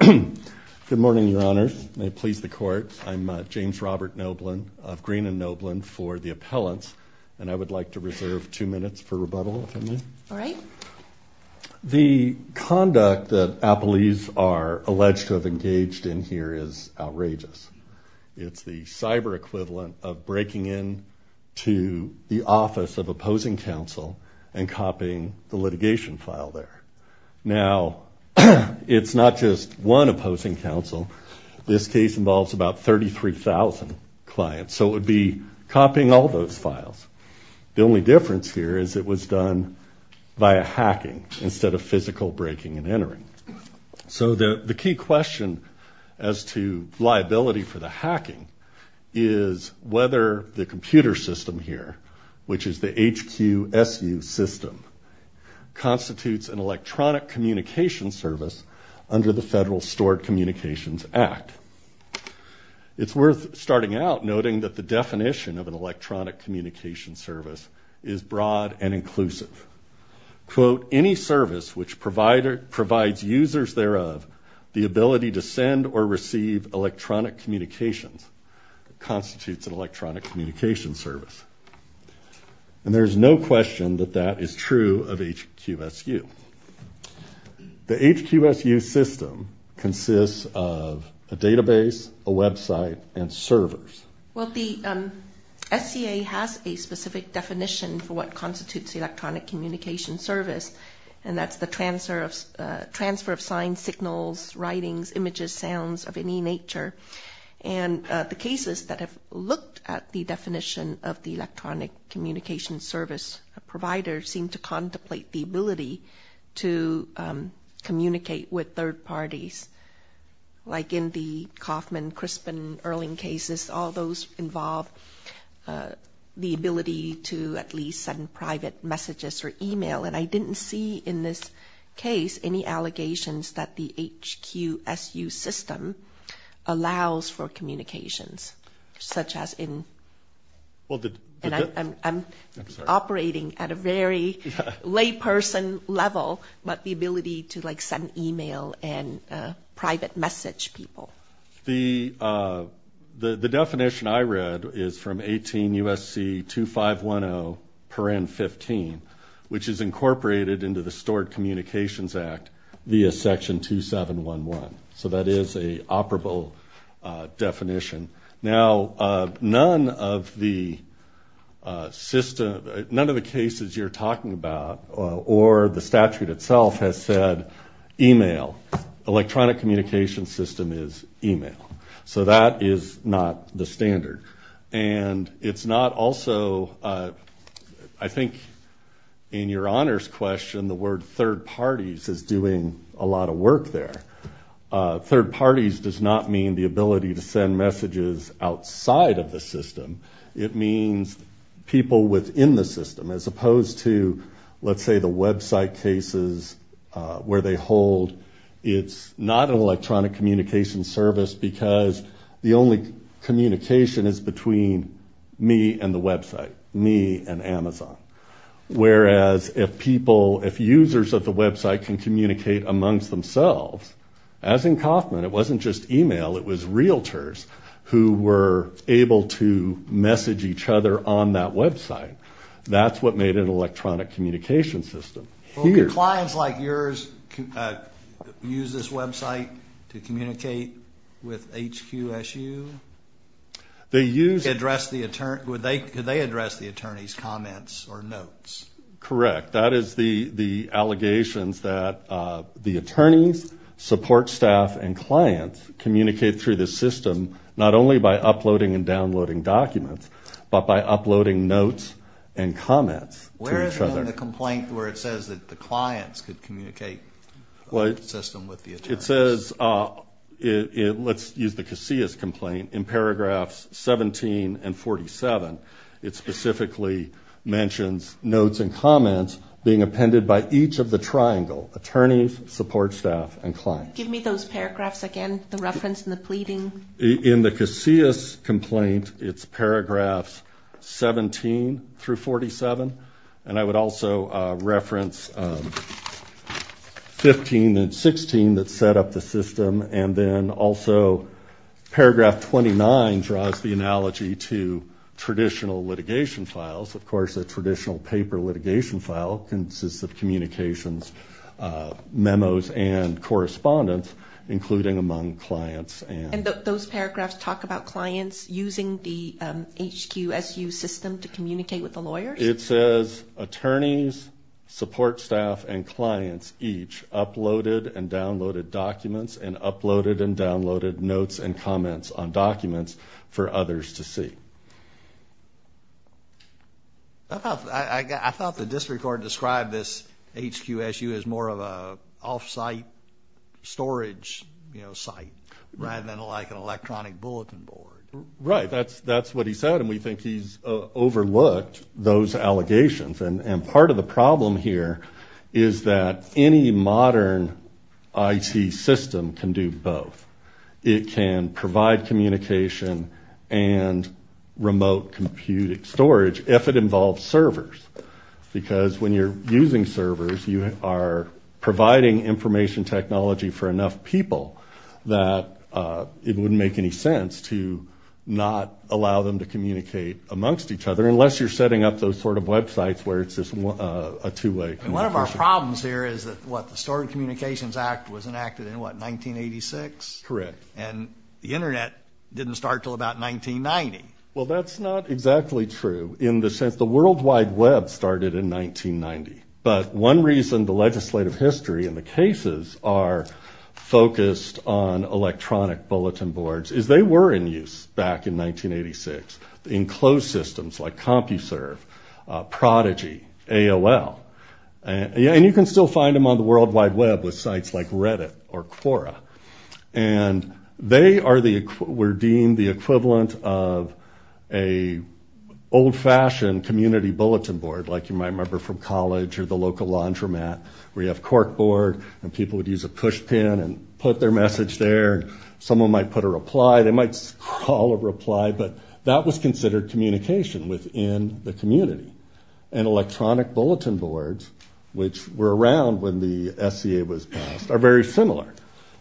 Good morning, Your Honors. May it please the Court, I'm James Robert Noblin of Green and Noblin for the appellants, and I would like to reserve two minutes for rebuttal if I may. All right. The conduct that appellees are alleged to have engaged in here is outrageous. It's the cyber equivalent of breaking in to the office of opposing counsel and copying the litigation file there. Now, it's not just one opposing counsel. This case involves about 33,000 clients, so it would be copying all those files. The only difference here is it was done via hacking instead of physical breaking and entering. So the key question as to liability for the hacking is whether the computer system here, which is the HQSU system, constitutes an electronic communication service under the Federal Stored Communications Act. It's worth starting out noting that the definition of an electronic communication service is broad and inclusive. Quote, any service which provides users thereof the ability to send or receive electronic communications constitutes an electronic communication service. And there's no question that that is true of HQSU. The HQSU system consists of a database, a website, and servers. Well, the SCA has a specific definition for what constitutes electronic communication service, and that's the transfer of signs, signals, writings, images, sounds of any nature. And the cases that have looked at the definition of the electronic communication service provider seem to contemplate the ability to communicate with third parties, like in the Kauffman, Crispin, Erling cases, all those involve the ability to at least send private messages or email. And I didn't see in this case any allegations that the HQSU system allows for communications, such as in, and I'm operating at a very layperson level, but the ability to like send email and private message people. The definition I read is from 18 U.S.C. 2510.15, which is incorporated into the Stored Communications Act via Section 2711. So that is a operable definition. Now, none of the system, none of the cases you're talking about or the statute itself has said email, electronic communication system is email. So that is not the standard. And it's not also, I think in your honors question, the word third parties is doing a lot of work there. Third parties does not mean the ability to send messages outside of the system. It means people within the system, as opposed to, let's say the website cases where they hold, it's not an electronic communication service because the only communication is between me and the website, me and Amazon. Whereas if people, if users of the website can communicate amongst themselves, as in Kauffman, it wasn't just email, it was realtors who were able to message each other on that website. That's what made an electronic communication system. Well, could clients like yours use this website to communicate with HQSU? They use... Could they address the attorney's comments or notes? Correct. That is the allegations that the attorneys, support staff, and clients communicate through the system, not only by uploading and downloading documents, but by uploading notes and comments to each other. Where is it in the complaint where it says that the clients could communicate system with the attorneys? It says, let's use the Casillas complaint in paragraphs 17 and 47. It specifically mentions notes and comments being appended by each of the triangle, attorneys, support staff, and clients. Give me those paragraphs again, the reference and the pleading. In the Casillas complaint, it's paragraphs 17 through 47. I would also reference 15 and 16 that set up the system. Then also, paragraph 29 draws the analogy to traditional litigation files. Of course, a traditional paper litigation file consists of communications, memos, and correspondence, including among clients. Those paragraphs talk about clients using the HQSU system to communicate with the lawyers? It says, attorneys, support staff, and clients each uploaded and downloaded documents and uploaded and downloaded notes and comments on documents for others to see. I thought the district court described this HQSU as more of an off-site storage site rather than like an electronic bulletin board. Right. That's what he said, and we think he's overlooked those allegations. Part of the problem here is that any modern IT system can do both. It can provide communication and remote computing storage if it involves servers. When you're using servers, you are providing information technology for enough people that it wouldn't make any sense to not allow them to communicate amongst each other unless you're setting up those websites where it's just a two-way communication. One of our problems here is that the Storage Communications Act was enacted in 1986? Correct. And the internet didn't start until about 1990? Well, that's not exactly true in the sense the World Wide Web started in 1990. But one reason the legislative history and the cases are focused on electronic bulletin boards is they were in use back in 1986 in closed systems like CompuServe, Prodigy, AOL, and you can still find them on the World Wide Web with sites like Reddit or Quora. They were deemed the equivalent of an old-fashioned community bulletin board like you might remember from college or the local laundromat where you have cork board and people would use a push pin and put their message there. Someone might put a reply. They might call a reply, but that was considered communication within the community. And electronic bulletin boards, which were around when the SCA was passed, are very similar.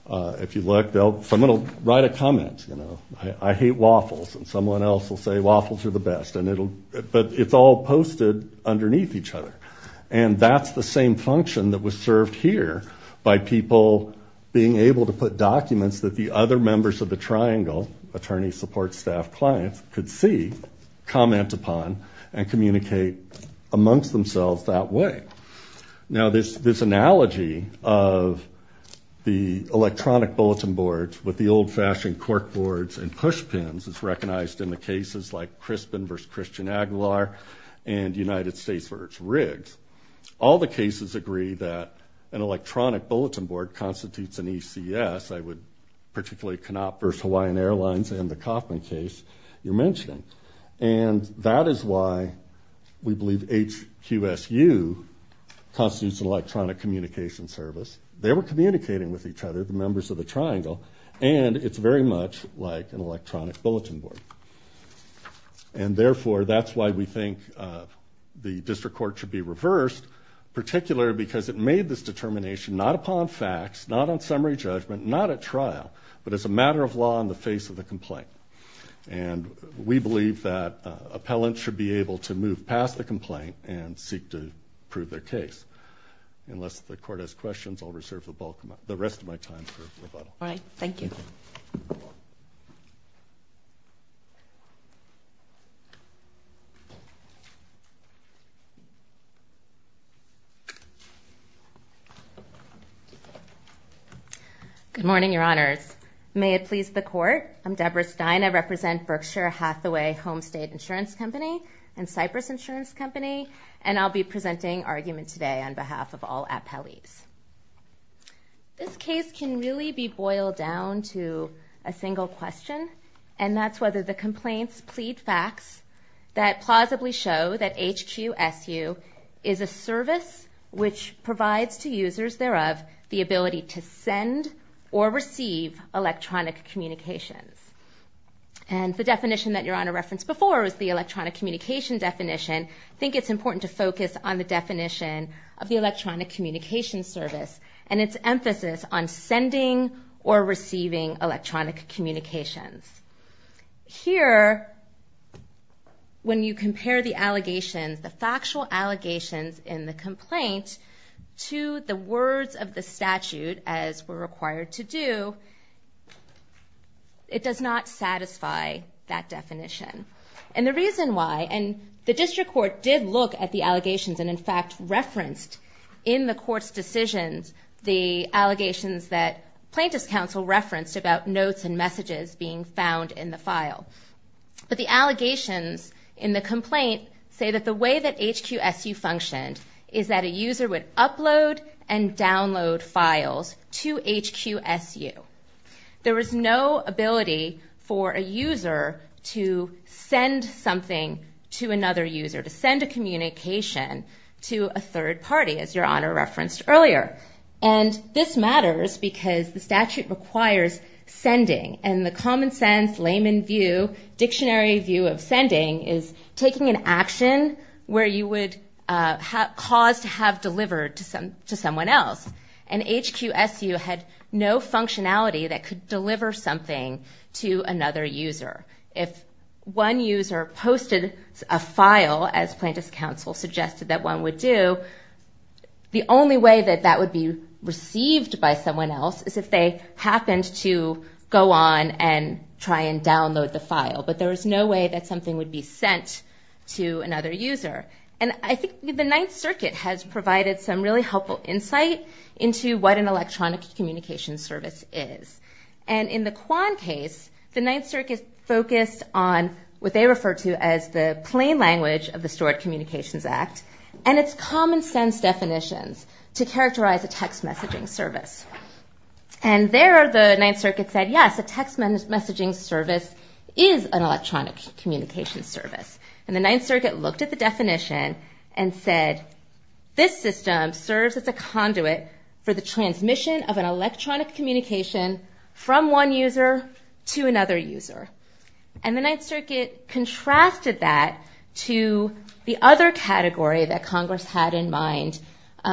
If you look, someone will write a comment, you know, I hate waffles, and someone else will say waffles are the best, but it's all posted underneath each other. And that's the same function that was served here by people being able to put documents that the other members of the triangle, attorney, support staff, clients, could see, comment upon, and communicate amongst themselves that way. Now this analogy of the electronic bulletin boards with the old-fashioned cork boards and push pins is recognized in the cases like Crispin v. Christian Aguilar and United States v. Riggs. All the cases agree that an electronic bulletin board constitutes an ECS. I would particularly cannot Hawaiian Airlines and the Kauffman case you're mentioning. And that is why we believe HQSU constitutes an electronic communication service. They were communicating with each other, the members of the triangle, and it's very much like an electronic bulletin board. And therefore, that's why we think the district court should be reversed, particularly because it made this determination not upon facts, not on summary judgment, not at trial, but as a matter of law in the face of the complaint. And we believe that appellants should be able to move past the complaint and seek to prove their case. Unless the court has questions, I'll reserve the rest of my time for rebuttal. All right. Thank you. Good morning, Your Honors. May it please the court, I'm Deborah Stein. I represent Berkshire Hathaway Home State Insurance Company and Cypress Insurance Company, and I'll be presenting argument today on behalf of all appellees. This case can really be boiled down to a single question, and that's whether the complaints plead facts that plausibly show that HQSU is a service which provides to users thereof the ability to send or receive electronic communications. And the definition that Your Honor referenced before is the electronic communication definition. I think it's important to focus on the definition of the electronic communication service and its emphasis on sending or receiving electronic communications. Here, when you compare the allegations, the factual allegations in the complaint to the words of the statute, as we're did look at the allegations and, in fact, referenced in the court's decisions the allegations that plaintiff's counsel referenced about notes and messages being found in the file. But the allegations in the complaint say that the way that HQSU functioned is that a user would upload and download files to HQSU. There was no ability for a user to send something to another user, to send a communication to a third party, as Your Honor referenced earlier. And this matters because the statute requires sending, and the common sense layman view, dictionary view of sending is taking an action where you would cause to have delivered to someone else. And HQSU had no functionality that could deliver something to another user. If one user posted a file, as plaintiff's counsel suggested that one would do, the only way that that would be received by someone else is if they happened to go on and try and download the file. But there was no way that something would be sent to another user. And I think the Ninth Circuit has provided some really clear examples of what an electronic communications service is. And in the Kwan case, the Ninth Circuit focused on what they refer to as the plain language of the Stewart Communications Act and its common sense definitions to characterize a text messaging service. And there the Ninth Circuit said, yes, a text messaging service is an electronic communications service. And the Ninth Circuit looked at the electronic communication from one user to another user. And the Ninth Circuit contrasted that to the other category that Congress had in mind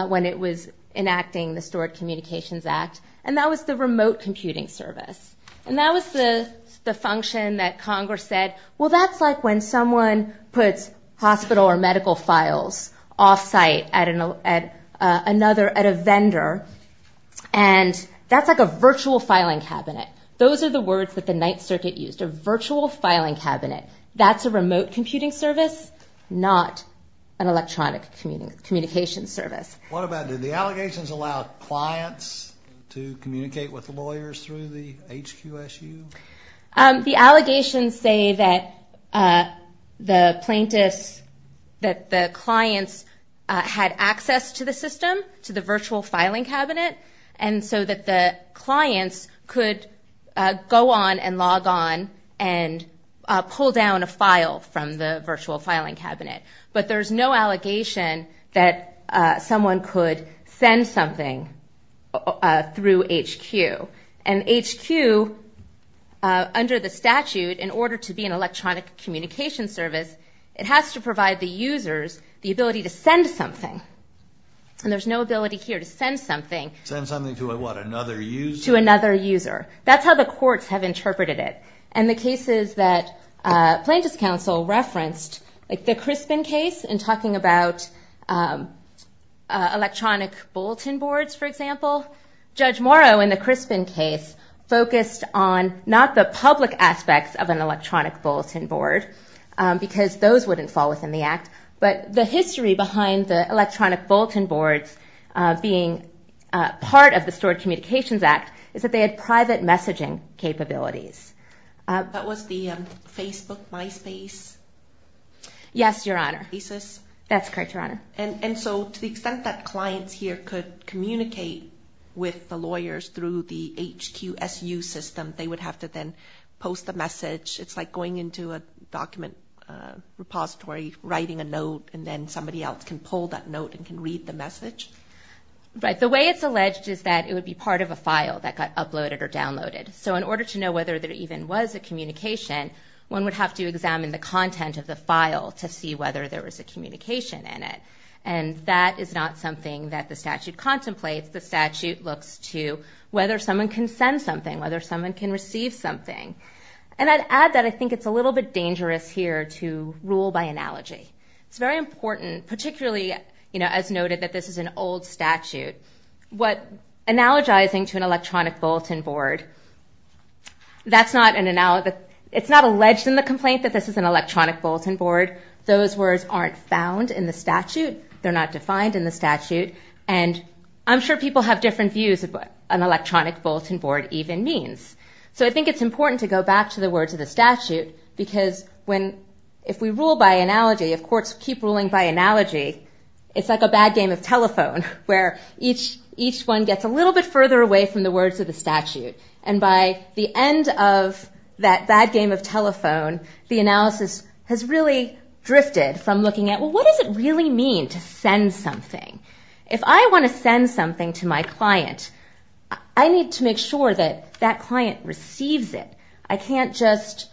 when it was enacting the Stewart Communications Act, and that was the remote computing service. And that was the function that Congress said, well, that's like when someone puts hospital or medical files off-site at a vendor, and that's like a virtual filing cabinet. Those are the words that the Ninth Circuit used, a virtual filing cabinet. That's a remote computing service, not an electronic communication service. What about, did the allegations allow clients to communicate with lawyers through the HQSU? The allegations say that the plaintiffs, that the clients had access to the system, to the virtual filing cabinet, and so that the clients could go on and log on and pull down a file from the virtual filing cabinet. But there's no allegation that someone could send something through HQ. And HQ, under the statute, in order to be an electronic communication service, it has to provide the users the ability to send something. And there's no ability here to send something. Send something to what, another user? To another user. That's how the courts have interpreted it. And the cases that Plaintiffs' Counsel referenced, like the Crispin case in talking about electronic bulletin boards, for example, Judge Morrow in the Crispin case focused on not the public aspects of an electronic bulletin board, because those wouldn't fall within the Act, but the history behind the electronic bulletin boards being part of the Stored Communications Act is that they had private messaging capabilities. That was the Facebook MySpace? Yes, Your Honor. That's correct, Your Honor. And so to the extent that clients here could communicate with the lawyers through the HQSU system, they would have to then post a message. It's like going into a document repository, writing a note, and then somebody else can pull that note and can read the message? Right. The way it's alleged is that it would be part of a file that got uploaded or downloaded. So in order to know whether there even was a communication, one would have to examine the and that is not something that the statute contemplates. The statute looks to whether someone can send something, whether someone can receive something. And I'd add that I think it's a little bit dangerous here to rule by analogy. It's very important, particularly as noted that this is an old statute, analogizing to an electronic bulletin board, it's not alleged in the complaint that this is an electronic bulletin board. Those words aren't found in the statute. They're not defined in the statute. And I'm sure people have different views of what an electronic bulletin board even means. So I think it's important to go back to the words of the statute because if we rule by analogy, if courts keep ruling by analogy, it's like a bad game of telephone where each one gets a little bit further away from the words of the statute. And by the end of that bad game of telephone, the analysis has really drifted from looking at, what does it really mean to send something? If I want to send something to my client, I need to make sure that that client receives it. I can't just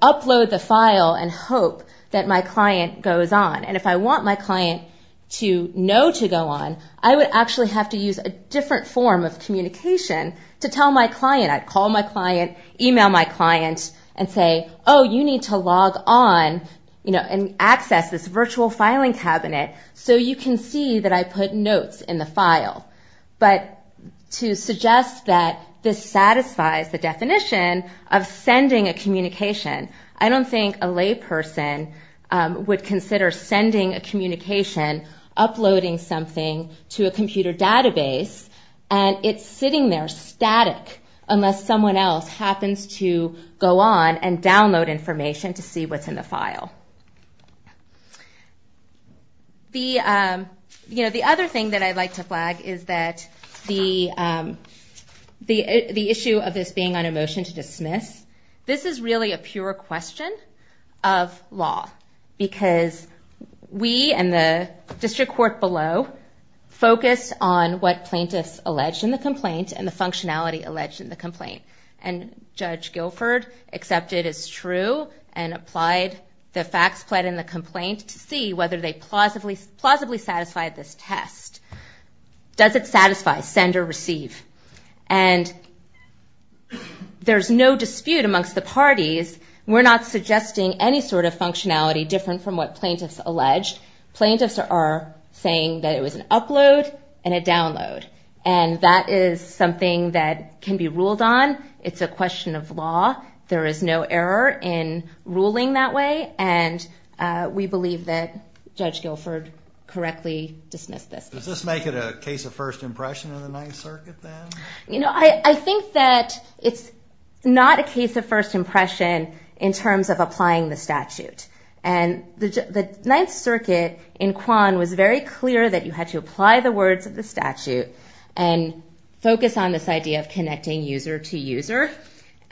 upload the file and hope that my client goes on. And if I want my client to know to go on, I would actually have to use a different form of communication to tell my client. I'd call my client, email my client, and say, oh, you need to log on and access this virtual filing cabinet so you can see that I put notes in the file. But to suggest that this satisfies the definition of sending a communication, I don't think a layperson would consider sending a communication, uploading something to a computer database, and it's sitting there static unless someone else happens to go on and download information to see what's in the file. The other thing that I'd like to flag is that the issue of this being on a motion to dismiss, this is really a pure question of law. Because we and the district court below focus on what plaintiffs allege in the complaint and the functionality alleged in the complaint. And Judge Guilford accepted as true and applied the facts pled in the complaint to see whether they plausibly satisfied this test. Does it satisfy send or receive? And there's no dispute amongst the parties. We're not suggesting any sort of functionality different from what plaintiffs allege. Plaintiffs are saying that it was an upload and a download. And that is something that can be ruled on. It's a question of law. There is no error in ruling that way. And we believe that Judge Guilford correctly dismissed this. Does this make it a case of first impression in the Ninth Circuit then? You know, I think that it's not a case of first impression in terms of applying the statute. And the Ninth Circuit in Kwan was very clear that you had to apply the words of the statute and focus on this idea of connecting user to user.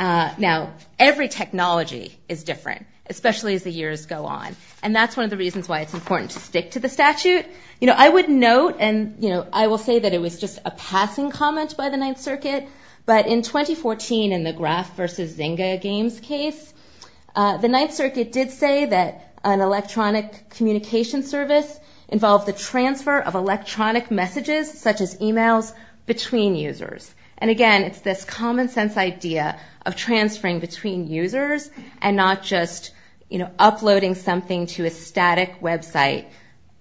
Now, every technology is different, especially as the years go on. And that's one of the reasons why it's important to stick to the statute. You know, I would note and I will say that it was just a passing comment by the Ninth Circuit. But in 2014 in the graph versus Zynga games case, the Ninth Circuit did say that an electronic communication service involved the transfer of electronic messages such as emails between users. And again, it's this common sense idea of transferring between users and not just uploading something to a static website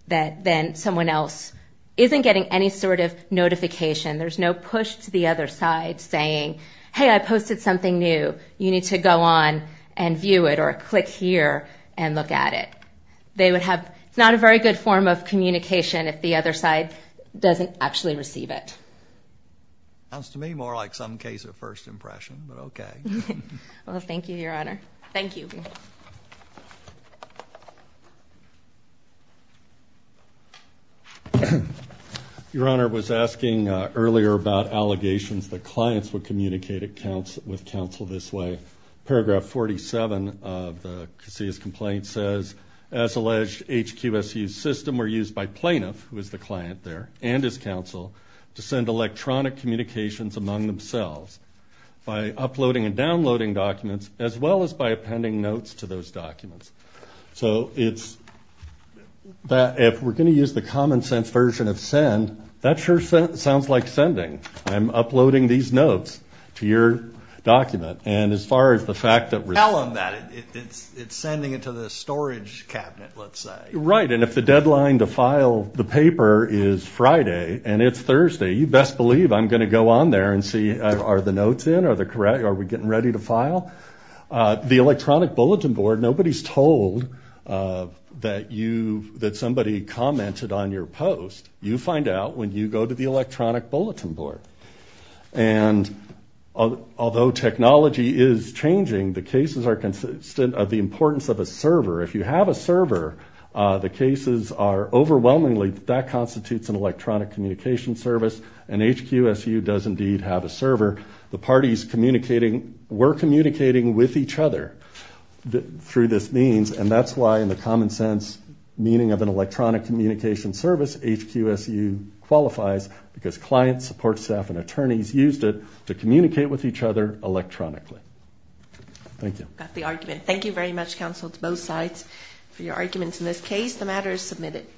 that then someone else isn't getting any sort of notification. There's no push to the other side saying, hey, I posted something new. You need to go on and view it or click here and look at it. They would have not a very good form of communication if the other side doesn't actually receive it. Sounds to me more like some case of impression, but OK. Well, thank you, Your Honor. Thank you. Your Honor was asking earlier about allegations that clients would communicate with counsel this way. Paragraph 47 of the complaint says, as alleged, HQSU system were used by plaintiff, who is the client there and his counsel, to send electronic communications among themselves by uploading and downloading documents as well as by appending notes to those documents. So it's that if we're going to use the common sense version of send, that sure sounds like sending. I'm uploading these notes to your document. And as far as the fact that we're telling that it's sending it to the storage cabinet, let's say. Right. And if the deadline to are the notes in? Are we getting ready to file? The electronic bulletin board, nobody's told that somebody commented on your post. You find out when you go to the electronic bulletin board. And although technology is changing, the cases are consistent of the importance of a server. If you have a server, the cases are overwhelmingly that constitutes an electronic communication service. And HQSU does indeed have a server. The parties communicating, were communicating with each other through this means. And that's why in the common sense meaning of an electronic communication service, HQSU qualifies because clients support staff and attorneys used it to communicate with each other electronically. Thank you. Got the argument. Thank you very much, counsel, to both sides for your arguments. In this case, the matter is submitted.